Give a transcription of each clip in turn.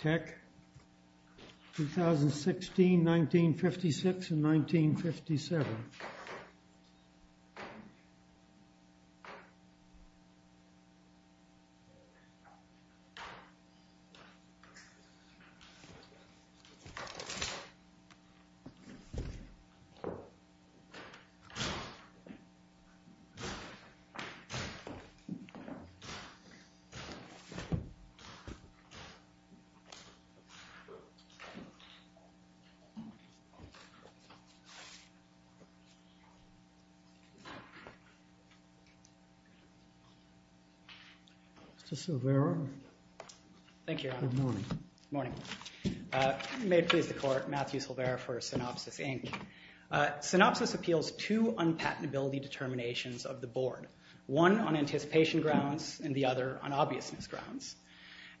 2016, 1956, and 1957. Matthew Silvera for Synopsys, Inc. Synopsys appeals two unpatentability determinations of the Board, one on anticipation grounds and the other on obviousness grounds.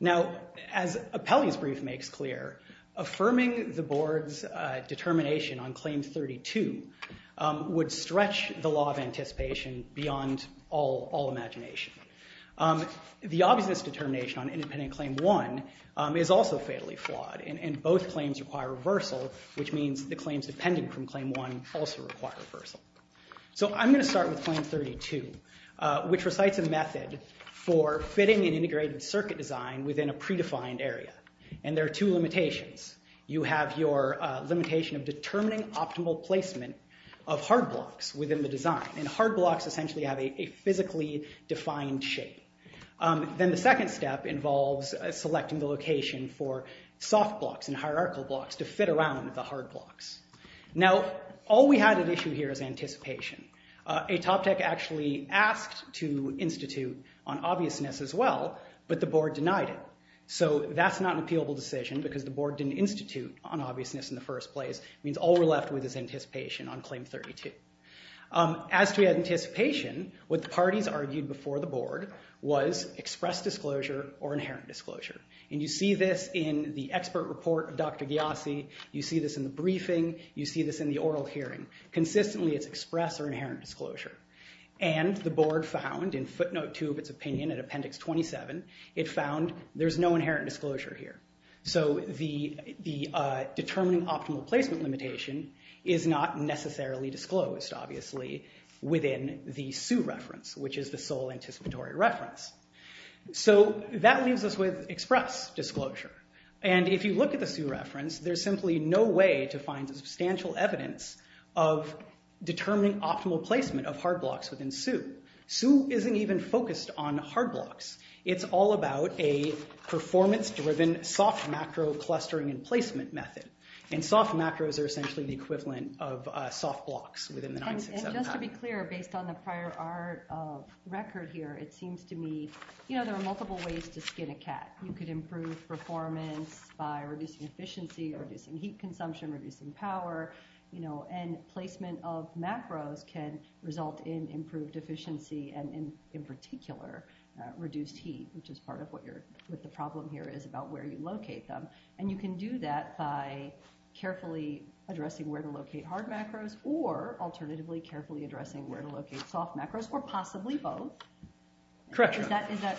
Now, as Apelli's brief makes clear, affirming the Board's determination on Claim 32 would stretch the law of anticipation beyond all imagination. The obviousness determination on Independent Claim 1 is also fatally flawed, and both claims require reversal, which means the claims depending from Claim 1 also require reversal. So I'm going to start with Claim 32, which recites a method for fitting an integrated circuit design within a predefined area, and there are two limitations. You have your limitation of determining optimal placement of hard blocks within the design, and hard blocks essentially have a physically defined shape. Then the second step involves selecting the location for soft blocks and hierarchical blocks to fit around the hard blocks. Now, all we had at issue here is anticipation. AtopTech actually asked to institute on obviousness as well, but the Board denied it. So that's not an appealable decision, because the Board didn't institute on obviousness in the first place. It means all we're left with is anticipation on Claim 32. As to anticipation, what the parties argued before the Board was express disclosure or inherent disclosure. And you see this in the expert report of Dr. Gyasi. You see this in the briefing. You see this in the oral hearing. Consistently it's express or inherent disclosure. And the Board found, in footnote 2 of its opinion, in appendix 27, it found there's no inherent disclosure here. So the determining optimal placement limitation is not necessarily disclosed, obviously, within the SUE reference, which is the sole anticipatory reference. So that leaves us with express disclosure. And if you look at the SUE reference, there's simply no way to find substantial evidence of determining optimal placement of hard blocks within SUE. SUE isn't even focused on hard blocks. It's all about a performance-driven soft macro clustering and placement method. And soft macros are essentially the equivalent of soft blocks within the 967 pattern. And just to be clear, based on the prior record here, it seems to me there are multiple ways to skin a cat. You could improve performance by reducing efficiency, reducing heat consumption, reducing power. You know, and placement of macros can result in improved efficiency and, in particular, reduced heat, which is part of what the problem here is about where you locate them. And you can do that by carefully addressing where to locate hard macros or, alternatively, carefully addressing where to locate soft macros, or possibly both. Correct. Is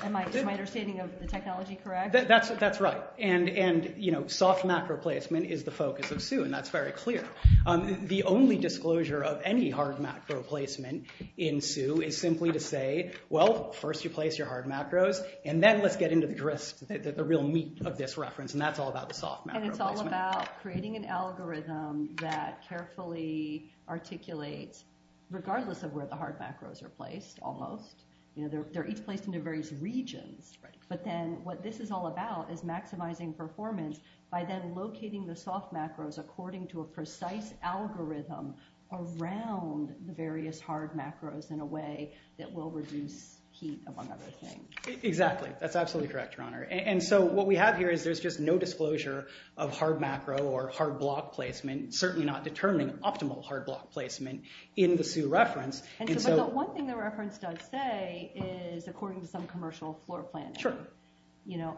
my understanding of the technology correct? That's right. And, you know, soft macro placement is the focus of SUE, and that's very clear. The only disclosure of any hard macro placement in SUE is simply to say, well, first you place your hard macros, and then let's get into the real meat of this reference, and that's all about the soft macro placement. And it's all about creating an algorithm that carefully articulates, regardless of where the hard macros are placed, almost. They're each placed into various regions, but then what this is all about is maximizing performance by then locating the soft macros according to a precise algorithm around the various hard macros in a way that will reduce heat, among other things. Exactly. That's absolutely correct, Your Honor. And so what we have here is there's just no disclosure of hard macro or hard block placement, certainly not determining optimal hard block placement in the SUE reference. But the one thing the reference does say is according to some commercial floor planning. Sure.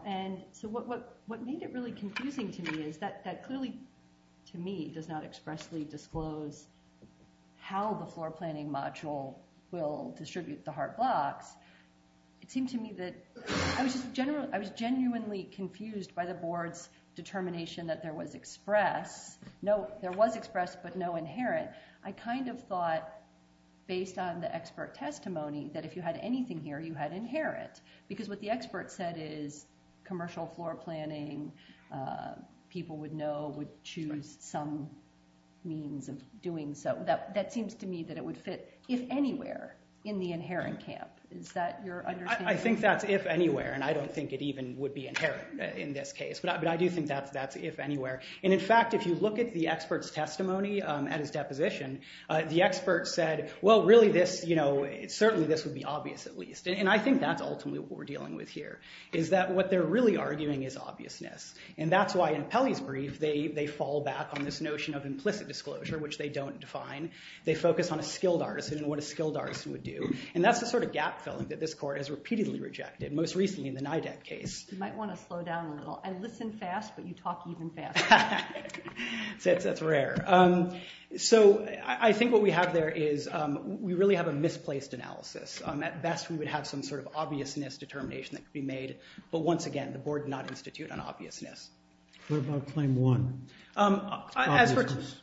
And so what made it really confusing to me is that that clearly, to me, does not expressly disclose how the floor planning module will distribute the hard blocks. It seemed to me that I was genuinely confused by the board's determination that there was express, no, there was express, but no inherent. I kind of thought, based on the expert testimony, that if you had anything here, you had inherent. Because what the expert said is commercial floor planning, people would know, would choose some means of doing so. That seems to me that it would fit, if anywhere, in the inherent camp. Is that your understanding? I think that's if anywhere, and I don't think it even would be inherent in this case. But I do think that's if anywhere. And in fact, if you look at the expert's testimony at his deposition, the expert said, well, really, certainly this would be obvious, at least. And I think that's ultimately what we're dealing with here, is that what they're really arguing is obviousness. And that's why in Pelley's brief, they fall back on this notion of implicit disclosure, which they don't define. They focus on a skilled artisan and what a skilled artisan would do. And that's the sort of gap filling that this court has repeatedly rejected, most recently in the NIDAC case. You might want to slow down a little. I listen fast, but you talk even faster. That's rare. So I think what we have there is we really have a misplaced analysis. At best, we would have some sort of obviousness determination that could be made. But once again, the board did not institute on obviousness. What about claim one?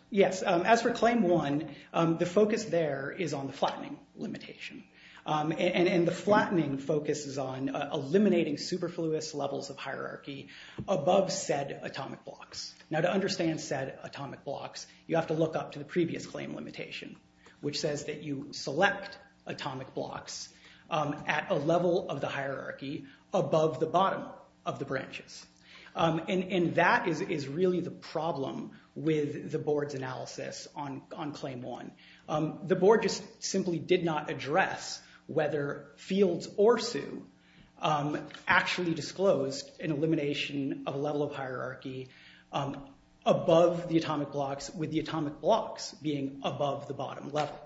Yes. As for claim one, the focus there is on the flattening limitation. And the flattening focuses on eliminating superfluous levels of hierarchy above said atomic blocks. Now, to understand said atomic blocks, you have to look up to the previous claim limitation, which says that you select atomic blocks at a level of the hierarchy above the bottom of the branches. And that is really the problem with the board's analysis on claim one. The board just simply did not address whether Fields or Hsu actually disclosed an elimination of a level of hierarchy above the atomic blocks, with the atomic blocks being above the bottom level.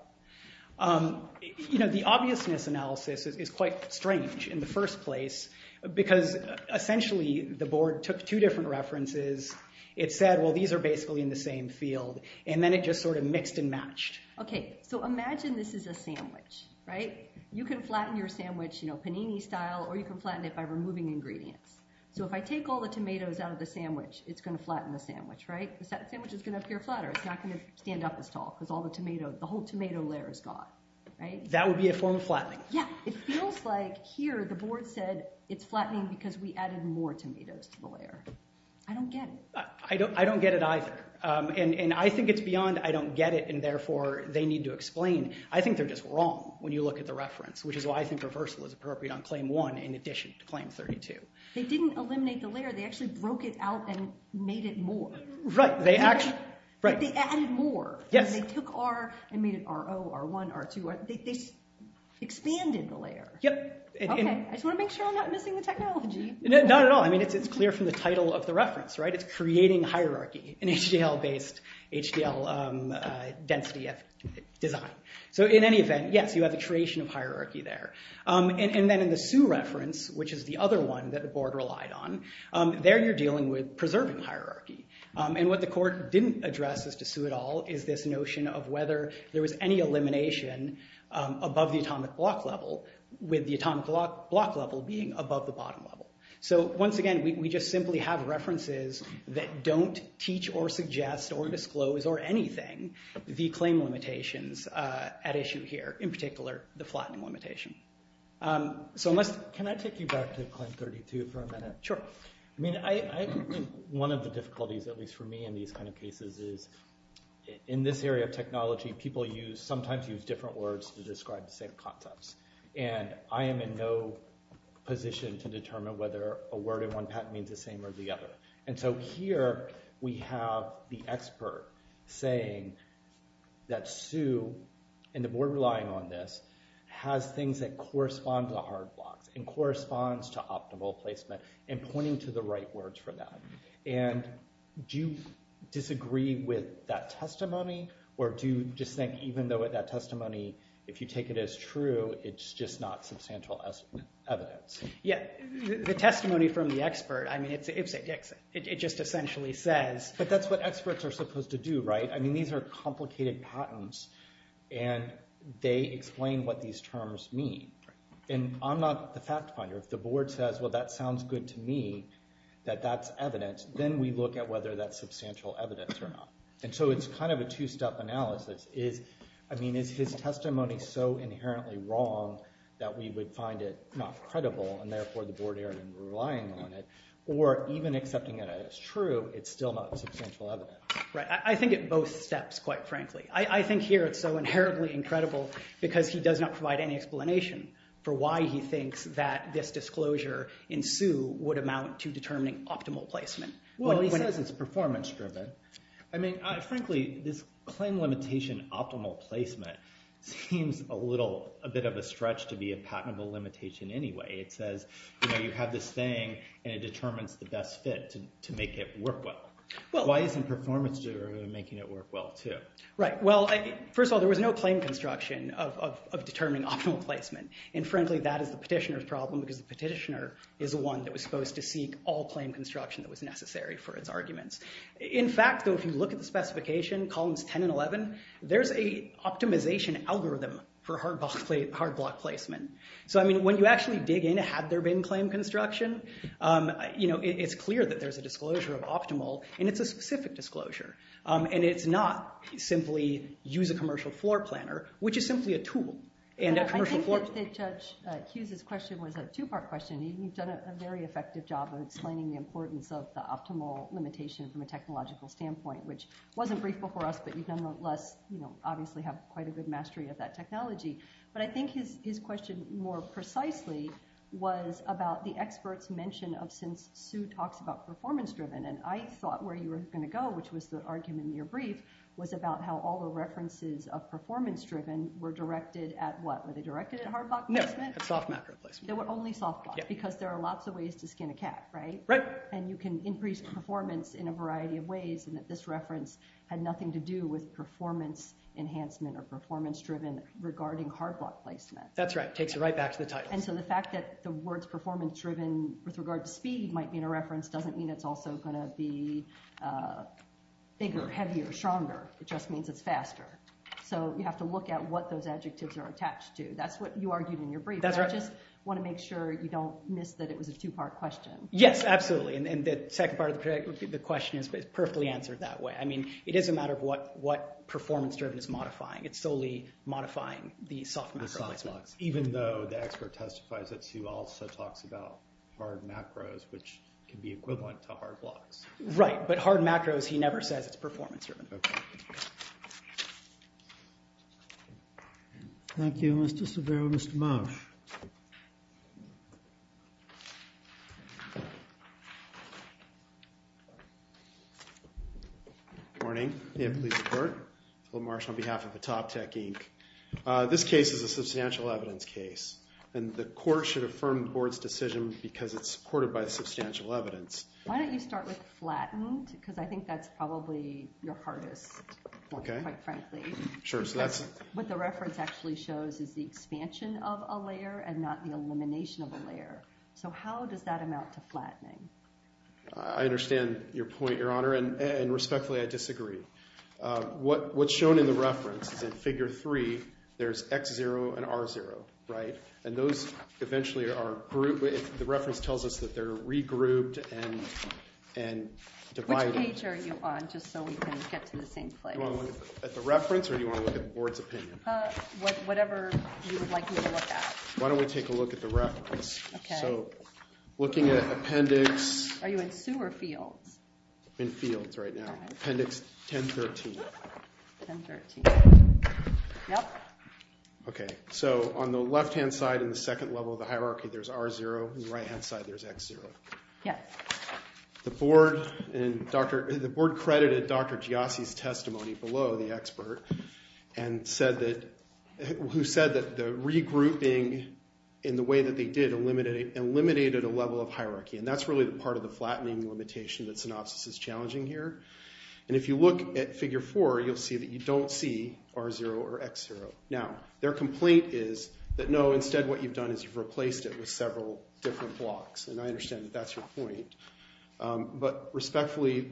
The obviousness analysis is quite strange in the first place, because essentially the board took two different references. It said, well, these are basically in the same field. And then it just sort of mixed and matched. Okay. So imagine this is a sandwich, right? You can flatten your sandwich, you know, panini style, or you can flatten it by removing ingredients. So if I take all the tomatoes out of the sandwich, it's going to flatten the sandwich, right? The sandwich is going to appear flatter. It's not going to stand up as tall, because all the tomatoes, the whole tomato layer is gone, right? That would be a form of flattening. Yeah. It feels like here the board said it's flattening because we added more tomatoes to the layer. I don't get it. I don't get it either. And I think it's beyond I don't get it, and therefore they need to explain. I think they're just wrong when you look at the reference, which is why I think reversal is appropriate on claim one in addition to claim 32. They didn't eliminate the layer. They actually broke it out and made it more. Right. They actually, right. They added more. Yes. They took R and made it R0, R1, R2. They expanded the layer. Yep. Okay. I just want to make sure I'm not missing the technology. Not at all. I mean, it's clear from the title of the reference, right? It's creating hierarchy in HDL-based, HDL-density design. So in any event, yes, you have the creation of hierarchy there. And then in the Sioux reference, which is the other one that the board relied on, there you're dealing with preserving hierarchy. And what the court didn't address as to Sioux et al is this notion of whether there was any elimination above the atomic block level with the atomic block level being above the bottom level. So once again, we just simply have references that don't teach or suggest or disclose or anything the claim limitations at issue here. In particular, the flattening limitation. Can I take you back to Claim 32 for a minute? Sure. I mean, one of the difficulties, at least for me in these kind of cases, is in this area of technology, people sometimes use different words to describe the same concepts. And I am in no position to determine whether a word in one patent means the same or the other. And so here we have the expert saying that Sioux, and the board relying on this, has things that correspond to the hard blocks and corresponds to optimal placement and pointing to the right words for that. And do you disagree with that testimony? Or do you just think even though that testimony, if you take it as true, it's just not substantial evidence? Yeah. The testimony from the expert, I mean, it just essentially says. But that's what experts are supposed to do, right? I mean, these are complicated patents. And they explain what these terms mean. And I'm not the fact finder. If the board says, well, that sounds good to me, that that's evidence, then we look at whether that's substantial evidence or not. And so it's kind of a two-step analysis. I mean, is his testimony so inherently wrong that we would find it not credible, and therefore the board here relying on it? Or even accepting it as true, it's still not substantial evidence? Right. I think it both steps, quite frankly. I think here it's so inherently incredible because he does not provide any explanation for why he thinks that this disclosure in Sioux would amount to determining optimal placement. Well, he says it's performance driven. I mean, frankly, this claim limitation optimal placement seems a little bit of a stretch to be a patentable limitation anyway. It says you have this thing, and it determines the best fit to make it work well. Why isn't performance driven making it work well, too? Right. Well, first of all, there was no claim construction of determining optimal placement. And frankly, that is the petitioner's problem because the petitioner is the one that was supposed to seek all claim construction that was necessary for its arguments. In fact, though, if you look at the specification, columns 10 and 11, there's a optimization algorithm for hard block placement. So, I mean, when you actually dig in, had there been claim construction, it's clear that there's a disclosure of optimal, and it's a specific disclosure. And it's not simply use a commercial floor planner, which is simply a tool. I think that Judge Hughes' question was a two-part question. You've done a very effective job of explaining the importance of the optimal limitation from a technological standpoint, which wasn't brief before us, but you've nonetheless, you know, obviously have quite a good mastery of that technology. But I think his question more precisely was about the expert's mention of since Sue talks about performance driven, and I thought where you were going to go, which was the argument in your brief, was about how all the references of performance driven were directed at what? Were they directed at hard block placement? No, at soft macro placement. They were only soft block, because there are lots of ways to skin a cat, right? Right. And you can increase performance in a variety of ways, and that this reference had nothing to do with performance enhancement or performance driven regarding hard block placement. That's right. It takes it right back to the title. And so the fact that the words performance driven with regard to speed might mean a reference doesn't mean it's also going to be bigger, heavier, stronger. It just means it's faster. So you have to look at what those adjectives are attached to. That's what you argued in your brief. That's right. I just want to make sure you don't miss that it was a two-part question. Yes, absolutely. And the second part of the question is perfectly answered that way. I mean, it is a matter of what performance driven is modifying. It's solely modifying the soft macro placement. Even though the expert testifies that Sue also talks about hard macros, which can be equivalent to hard blocks. Right, but hard macros, he never says it's performance driven. Thank you, Mr. Severo and Mr. Marsh. Good morning. May I please report? Will Marsh on behalf of the Top Tech Inc. This case is a substantial evidence case. And the court should affirm the board's decision because it's supported by substantial evidence. Why don't you start with flattened? Because I think that's probably your hardest point, quite frankly. Sure, so that's What the reference actually shows is the expansion of a layer and not the elimination of a layer. So how does that amount to flattening? I understand your point, Your Honor. And respectfully, I disagree. What's shown in the reference is in Figure 3, there's X0 and R0, right? And those eventually are grouped. The reference tells us that they're regrouped and divided. Which page are you on, just so we can get to the same place? Do you want to look at the reference or do you want to look at the board's opinion? Whatever you would like me to look at. Why don't we take a look at the reference? So, looking at appendix Are you in Sue or Fields? I'm in Fields right now. Appendix 1013. 1013. Yep. Okay, so on the left-hand side in the second level of the hierarchy, there's R0. On the right-hand side, there's X0. The board credited Dr. Giasi's testimony below the expert who said that the regrouping in the way that they did eliminated a level of hierarchy. And that's really the part of the flattening limitation that Synopsis is challenging here. And if you look at figure 4, you'll see that you don't see R0 or X0. Now, their complaint is that, no, instead what you've done is you've replaced it with several different blocks. And I understand that that's your point. But respectfully,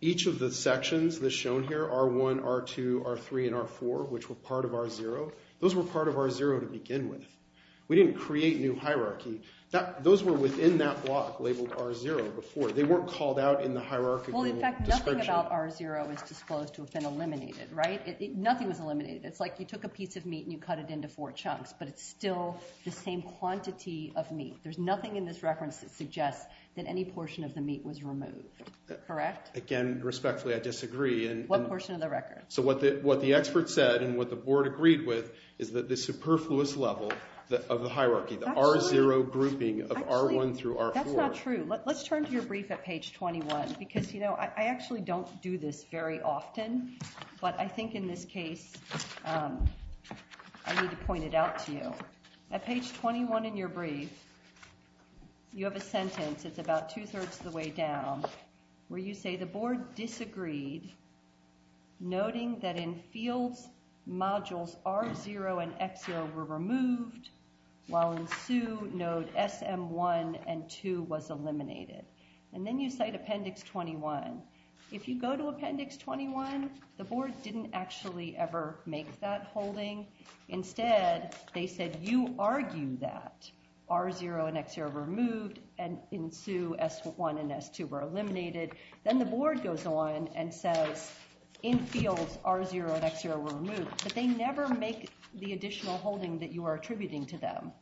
each of the sections that's shown here, R1, R2, R3, and R4, which were part of R0, those were part of R0 to begin with. We didn't create new hierarchy. Those were within that block labeled R0 before. They weren't called out in the hierarchy. Well, in fact, nothing about R0 is disclosed to have been eliminated, right? Nothing was eliminated. It's like you took a piece of meat and you cut it into four chunks, but it's still the same quantity of meat. There's nothing in this reference that suggests that any portion of the meat was removed. Correct? Again, respectfully, I disagree. What portion of the record? So what the expert said and what the board agreed with is that the superfluous level of the hierarchy, the R0 grouping of R1 through R4— That's not true. Let's turn to your brief at page 21 because, you know, I actually don't do this very often, but I think in this case I need to point it out to you. At page 21 in your brief, you have a sentence. It's about two-thirds of the way down where you say the board disagreed, noting that in fields, modules R0 and X0 were removed, while in SU, node SM1 and 2 was eliminated. And then you cite Appendix 21. If you go to Appendix 21, the board didn't actually ever make that holding. Instead, they said, you argue that R0 and X0 were removed, and in SU, S1 and S2 were eliminated. Then the board goes on and says, in fields, R0 and X0 were removed, but they never make the additional holding that you are attributing to them.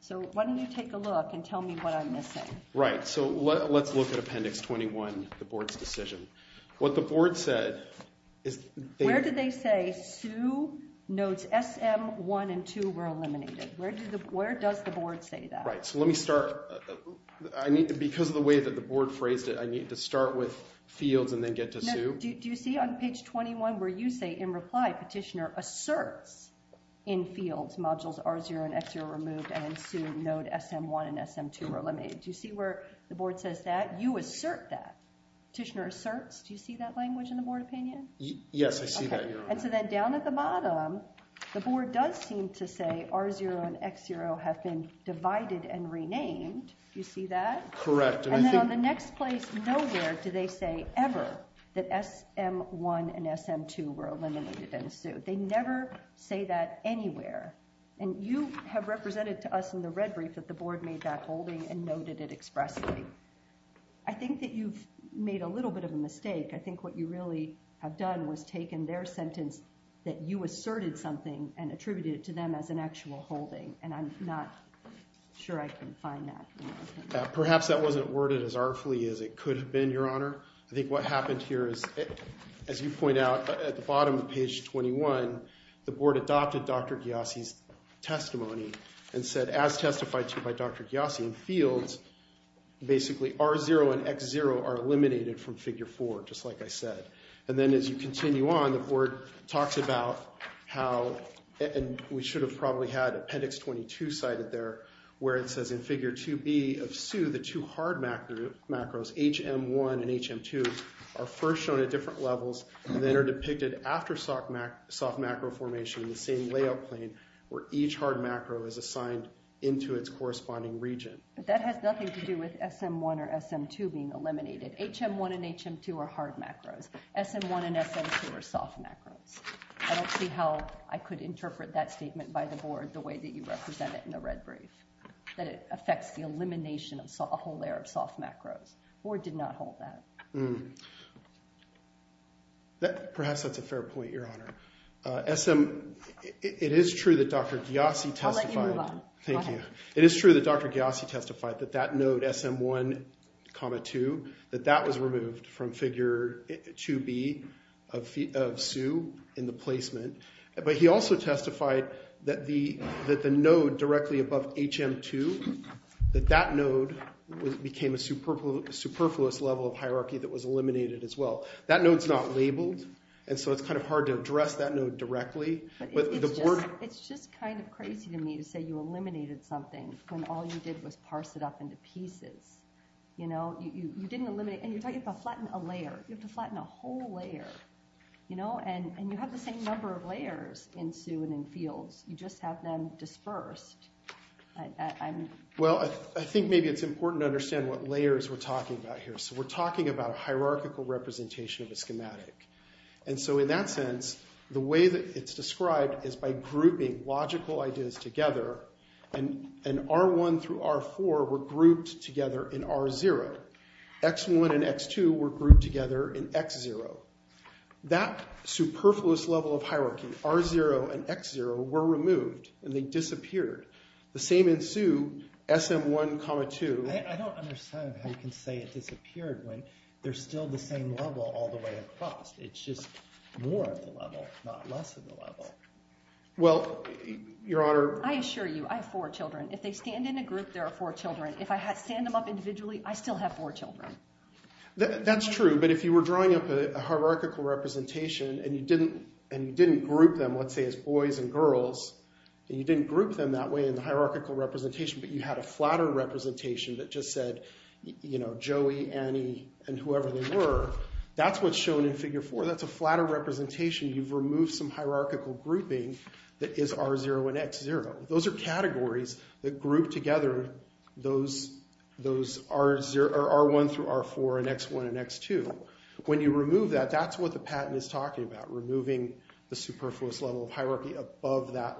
So why don't you take a look and tell me what I'm missing. Right. So let's look at Appendix 21, the board's decision. What the board said is— Where did they say SU nodes SM1 and 2 were eliminated? Where does the board say that? Right. So let me start. Because of the way that the board phrased it, I need to start with fields and then get to SU. Do you see on page 21 where you say, in reply, petitioner asserts in fields, modules R0 and X0 were removed, and in SU, node SM1 and SM2 were eliminated. Do you see where the board says that? You assert that. Petitioner asserts. Do you see that language in the board opinion? Yes, I see that here. And so then down at the bottom, the board does seem to say R0 and X0 have been divided and renamed. Do you see that? Correct. And then on the next place, nowhere do they say ever that SM1 and SM2 were eliminated in SU. They never say that anywhere. And you have represented to us in the red brief that the board made that holding and noted it expressly. I think that you've made a little bit of a mistake. I think what you really have done was taken their sentence that you asserted something and attributed it to them as an actual holding. And I'm not sure I can find that. Perhaps that wasn't worded as artfully as it could have been, Your Honor. I think what happened here is, as you point out, at the bottom of page 21, the board adopted Dr. Ghiasi's testimony and said, as testified to by Dr. Ghiasi in fields, basically R0 and X0 are eliminated from figure 4, just like I said. And then as you continue on, the board talks about how, and we should have probably had appendix 22 cited there, where it says, in figure 2B of SU, the two hard macros, HM1 and HM2, are first shown at different levels and then are depicted after soft macro formation in the same layout plane where each hard macro is assigned into its corresponding region. But that has nothing to do with SM1 or SM2 being eliminated. HM1 and HM2 are hard macros. SM1 and SM2 are soft macros. I don't see how I could interpret that statement by the board the way that you represented it in the red brief, that it affects the elimination of a whole layer of soft macros. Board did not hold that. Perhaps that's a fair point, Your Honor. SM, it is true that Dr. Ghiasi testified. I'll let you move on. Thank you. It is true that Dr. Ghiasi testified that that node, SM1,2, that that was removed from figure 2B of SU in the placement. But he also testified that the node directly above HM2, that that node became a superfluous level of hierarchy that was eliminated as well. That node's not labeled, and so it's kind of hard to address that node directly. It's just kind of crazy to me to say you eliminated something when all you did was parse it up into pieces. You know, you didn't eliminate, and you're talking about flattening a layer. You have to flatten a whole layer, you know, and you have the same number of layers in SU and in fields. You just have them dispersed. Well, I think maybe it's important to understand what layers we're talking about here. So we're talking about a hierarchical representation of a schematic. And so in that sense, the way that it's described is by grouping logical ideas together, and R1 through R4 were grouped together in R0. X1 and X2 were grouped together in X0. That superfluous level of hierarchy, R0 and X0, were removed, and they disappeared. The same in SU, SM1,2. I don't understand how you can say it disappeared when there's still the same level all the way across. It's just more of the level, not less of the level. Well, Your Honor... I assure you, I have four children. If they stand in a group, there are four children. If I stand them up individually, I still have four children. That's true. But if you were drawing up a hierarchical representation and you didn't group them, let's say, as boys and girls, and you didn't group them that way in the hierarchical representation, but you had a flatter representation that just said, you know, Joey, Annie, and whoever they were, that's what's shown in Figure 4. That's a flatter representation. You've removed some hierarchical grouping that is R0 and X0. Those are categories that group together those R1 through R4 and X1 and X2. When you remove that, that's what the patent is talking about, removing the superfluous level of hierarchy above that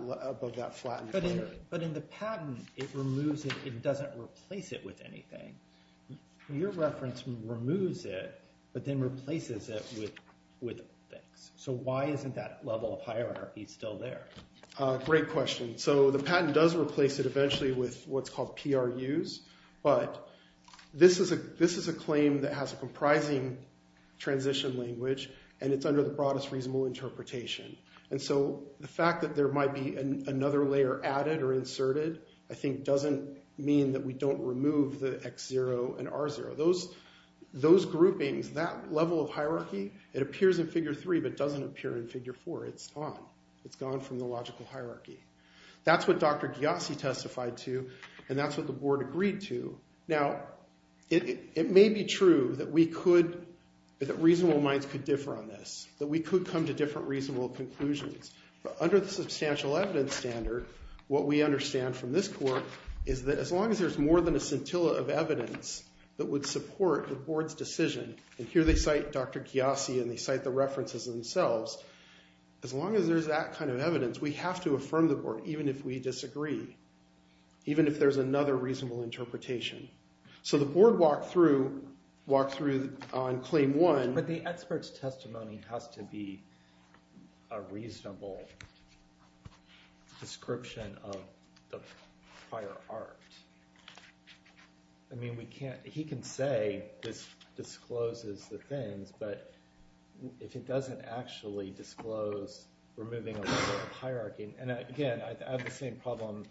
flattened layer. But in the patent, it removes it. It doesn't replace it with anything. Your reference removes it, but then replaces it with things. So why isn't that level of hierarchy still there? Great question. So the patent does replace it eventually with what's called PRUs, but this is a claim that has a comprising transition language and it's under the broadest reasonable interpretation. And so the fact that there might be another layer added or inserted I think doesn't mean that we don't remove the X0 and R0. Those groupings, that level of hierarchy, it appears in Figure 3 but doesn't appear in Figure 4. It's gone. It's gone from the logical hierarchy. That's what Dr. Ghiasi testified to and that's what the board agreed to. Now, it may be true that reasonable minds could differ on this, that we could come to different reasonable conclusions, but under the substantial evidence standard, what we understand from this court is that as long as there's more than a scintilla of evidence that would support the board's decision, and here they cite Dr. Ghiasi and they cite the references themselves, as long as there's that kind of evidence, we have to affirm the board even if we disagree, even if there's another reasonable interpretation. So the board walked through on Claim 1... But the expert's testimony has to be a reasonable description of the prior art. I mean, we can't... He can say this discloses the things, but if it doesn't actually disclose removing a level of hierarchy... And again, I have the same problem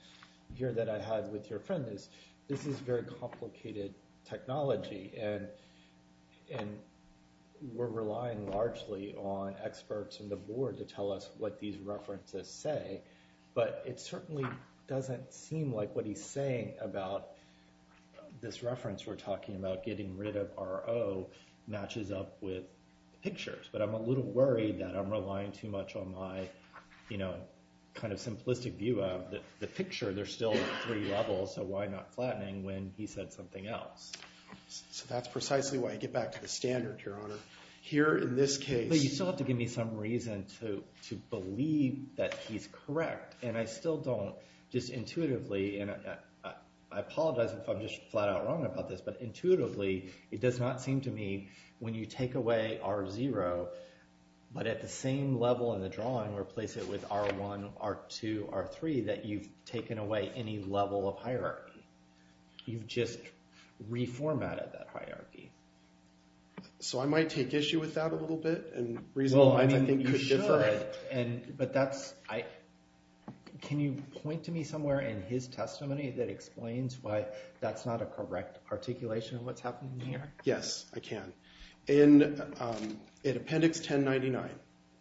here that I had with your friend, is this is very complicated technology and we're relying largely on experts in the board to tell us what these references say, but it certainly doesn't seem like what he's saying about this reference we're talking about getting rid of R.O. matches up with the pictures. But I'm a little worried that I'm relying too much on my, you know, kind of simplistic view of the picture, there's still three levels, so why not flattening when he said something else? So that's precisely why I get back to the standard, Your Honor. Here, in this case... But you still have to give me some reason to believe that he's correct, and I still don't, just intuitively, and I apologize if I'm just flat out wrong about this, but intuitively, it does not seem to me when you take away R.0, but at the same level in the drawing or place it with R.1, R.2, R.3, that you've taken away any level of hierarchy. You've just reformatted that hierarchy. So I might take issue with that a little bit, and reasonable minds, I think, could differ. Well, I mean, you should, but that's... Can you point to me somewhere in his testimony that explains why that's not a correct articulation of what's happening here? Yes, I can. In Appendix 1099,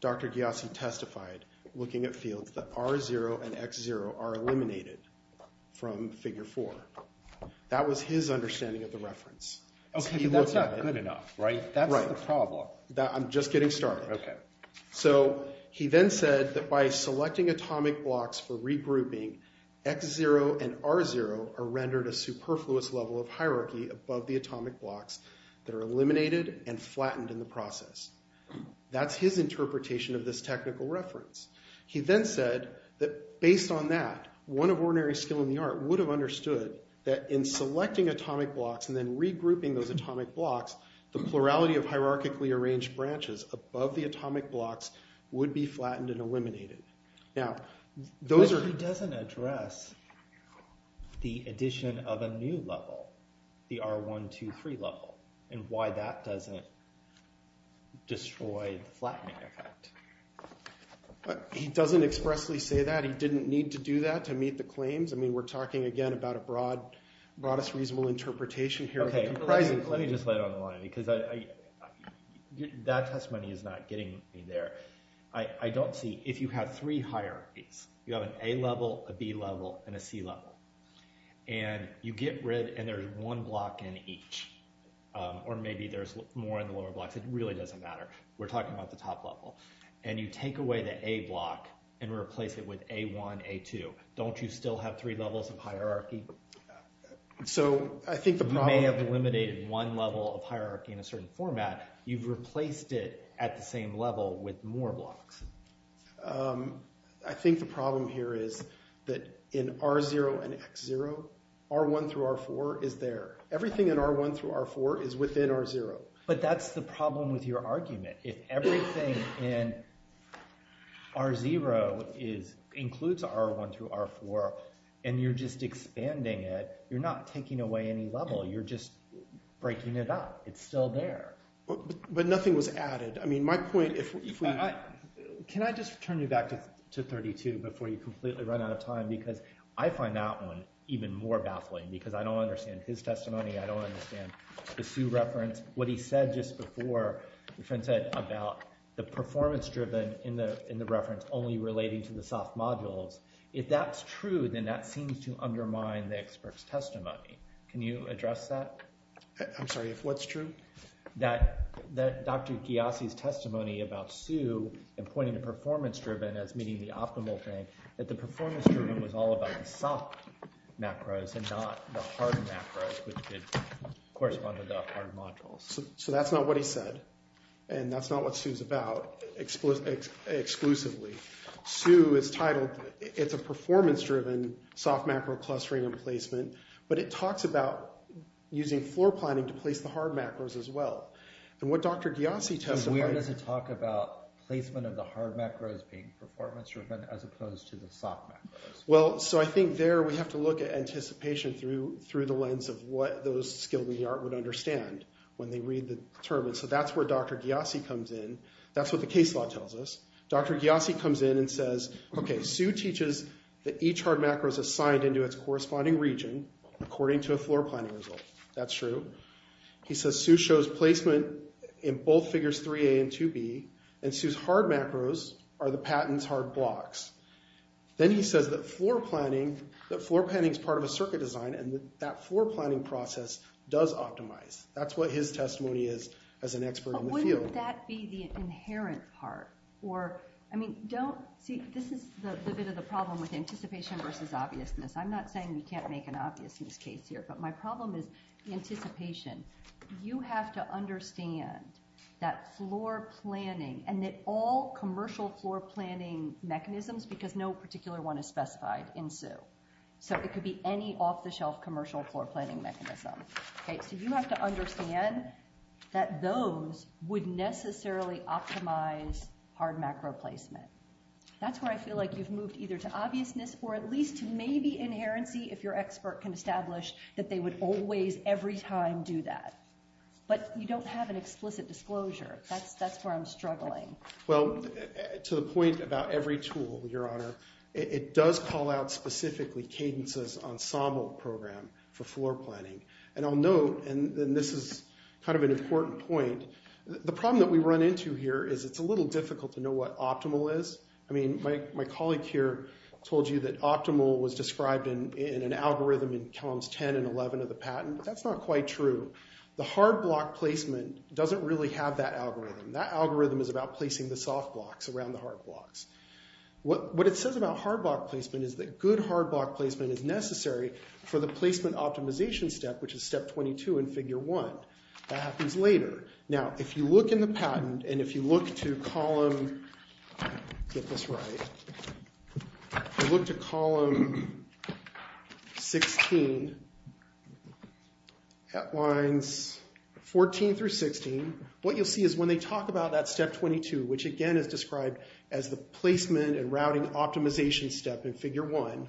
Dr. Gyasi testified, looking at fields, that R.0 and X.0 are eliminated from Figure 4. That was his understanding of the reference. Okay, but that's not good enough, right? That's the problem. I'm just getting started. So he then said that by selecting atomic blocks for regrouping, X.0 and R.0 are rendered a superfluous level of hierarchy above the atomic blocks that are eliminated and flattened in the process. That's his interpretation of this technical reference. He then said that based on that, one of ordinary skill in the art would have understood that in selecting atomic blocks and then regrouping those atomic blocks, the plurality of hierarchically arranged branches above the atomic blocks would be flattened and eliminated. Now, those are... But he doesn't address the addition of a new level, the R.1.2.3 level, and why that doesn't destroy the flattening effect. He doesn't expressly say that. He didn't need to do that to meet the claims. I mean, we're talking, again, about a broadest reasonable interpretation here. Okay, let me just lay it on the line, because that testimony is not getting me there. I don't see... If you have three hierarchies, you have an A level, a B level, and a C level, and you get rid... And there's one block in each, or maybe there's more in the lower blocks. It really doesn't matter. We're talking about the top level. And you take away the A block and replace it with A1, A2. Don't you still have three levels of hierarchy? So I think the problem... If you've created one level of hierarchy in a certain format, you've replaced it at the same level with more blocks. I think the problem here is that in R0 and X0, R1 through R4 is there. Everything in R1 through R4 is within R0. But that's the problem with your argument. If everything in R0 includes R1 through R4, and you're just expanding it, you're not taking away any level. You're just breaking it up. It's still there. But nothing was added. Can I just turn you back to 32 before you completely run out of time? Because I find that one even more baffling because I don't understand his testimony. I don't understand the Sioux reference. What he said just before, about the performance driven in the reference only relating to the soft modules, if that's true, then that seems to undermine the expert's testimony. Can you address that? I'm sorry, if what's true? Dr. Ghiasi's testimony about Sioux and pointing to performance driven as meeting the optimal thing, that the performance driven was all about the soft macros and not the hard macros which correspond to the hard modules. So that's not what he said. And that's not what Sioux is about exclusively. Sioux is titled, it's a performance driven soft macro clustering and placement. But it talks about using floor planning to place the hard macros as well. And what Dr. Ghiasi testified Where does it talk about placement of the hard macros being performance driven as opposed to the soft macros? Well, so I think there we have to look at anticipation through the lens of what those skilled in the art would understand when they read the term. So that's where Dr. Ghiasi comes in. That's what the case law tells us. Dr. Ghiasi comes in and says, Okay, Sioux teaches that each hard macro is assigned into its corresponding region according to a floor planning result. That's true. He says Sioux shows placement in both figures 3A and 2B and Sioux's hard macros are the patent's hard blocks. Then he says that floor planning is part of a circuit design and that floor planning process does optimize. That's what his testimony is as an expert in the field. Wouldn't that be the inherent part? Or, I mean, don't see, this is the bit of the problem with anticipation versus obviousness. I'm not saying you can't make an obviousness case here but my problem is anticipation. You have to understand that floor planning and that all commercial floor planning mechanisms because no particular one is specified in Sioux. So it could be any off the shelf commercial floor planning mechanism. So you have to understand that those would necessarily optimize hard macro placement. That's where I feel like you've moved either to obviousness or at least to maybe inherency if your expert can establish that they would always every time do that. But you don't have an explicit disclosure. That's where I'm struggling. Well, to the point about every tool, Your Honor, it does call out specifically Cadence's ensemble program for floor planning. And I'll note, and this is kind of an important point, the problem that we run into here is it's a little difficult to know what optimal is. My colleague here told you that optimal was described in an algorithm in columns 10 and 11 of the patent. That's not quite true. The hard block placement doesn't really have that algorithm. That algorithm is about placing the soft blocks around the hard blocks. What it says about hard block placement is that good hard block placement is necessary for the placement optimization step which is step 22 in figure 1. That happens later. Now, if you look in the patent and if you look to column get this right if you look to column 16 at lines 14 through 16 what you'll see is when they talk about that step 22 which again is described as the placement and routing optimization step in figure 1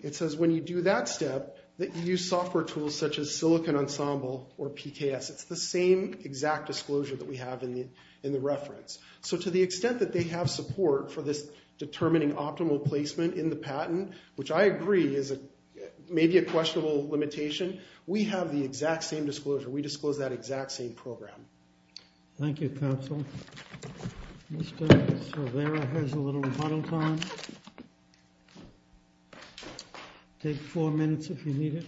it says when you do that step that you use software tools such as Silicon Ensemble or PKS. It's the same exact disclosure that we have in the reference. To the extent that they have support for this determining optimal placement in the patent, which I agree is maybe a questionable limitation we have the exact same disclosure. We disclose that exact same program. Thank you, counsel. Mr. Silvera has a little model time. Take 4 minutes if you need it.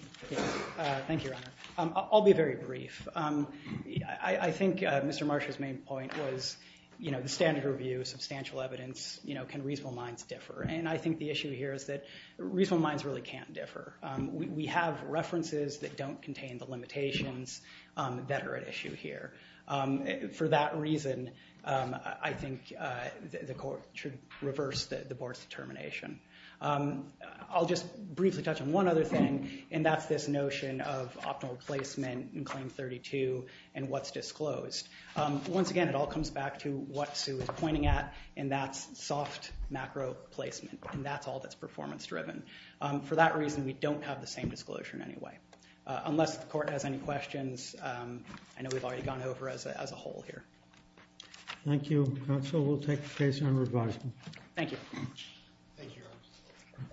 Thank you, your honor. I'll be very brief. I think Mr. Marsha's main point was the standard review of substantial evidence can reasonable minds differ and I think the issue here is that reasonable minds really can't differ. We have references that don't contain the limitations that are at issue here. For that reason I think the board's determination. I'll just briefly touch on one other thing and that's this notion of optimal placement in claim 32 and what's disclosed. Once again it all comes back to what Sue was pointing at and that's soft macro placement and that's all that's performance driven. For that reason we don't have the same disclosure in any way. Unless the court has any questions I know we've already gone over as a whole here. Thank you, counsel. We'll take that case under advisement. Thank you.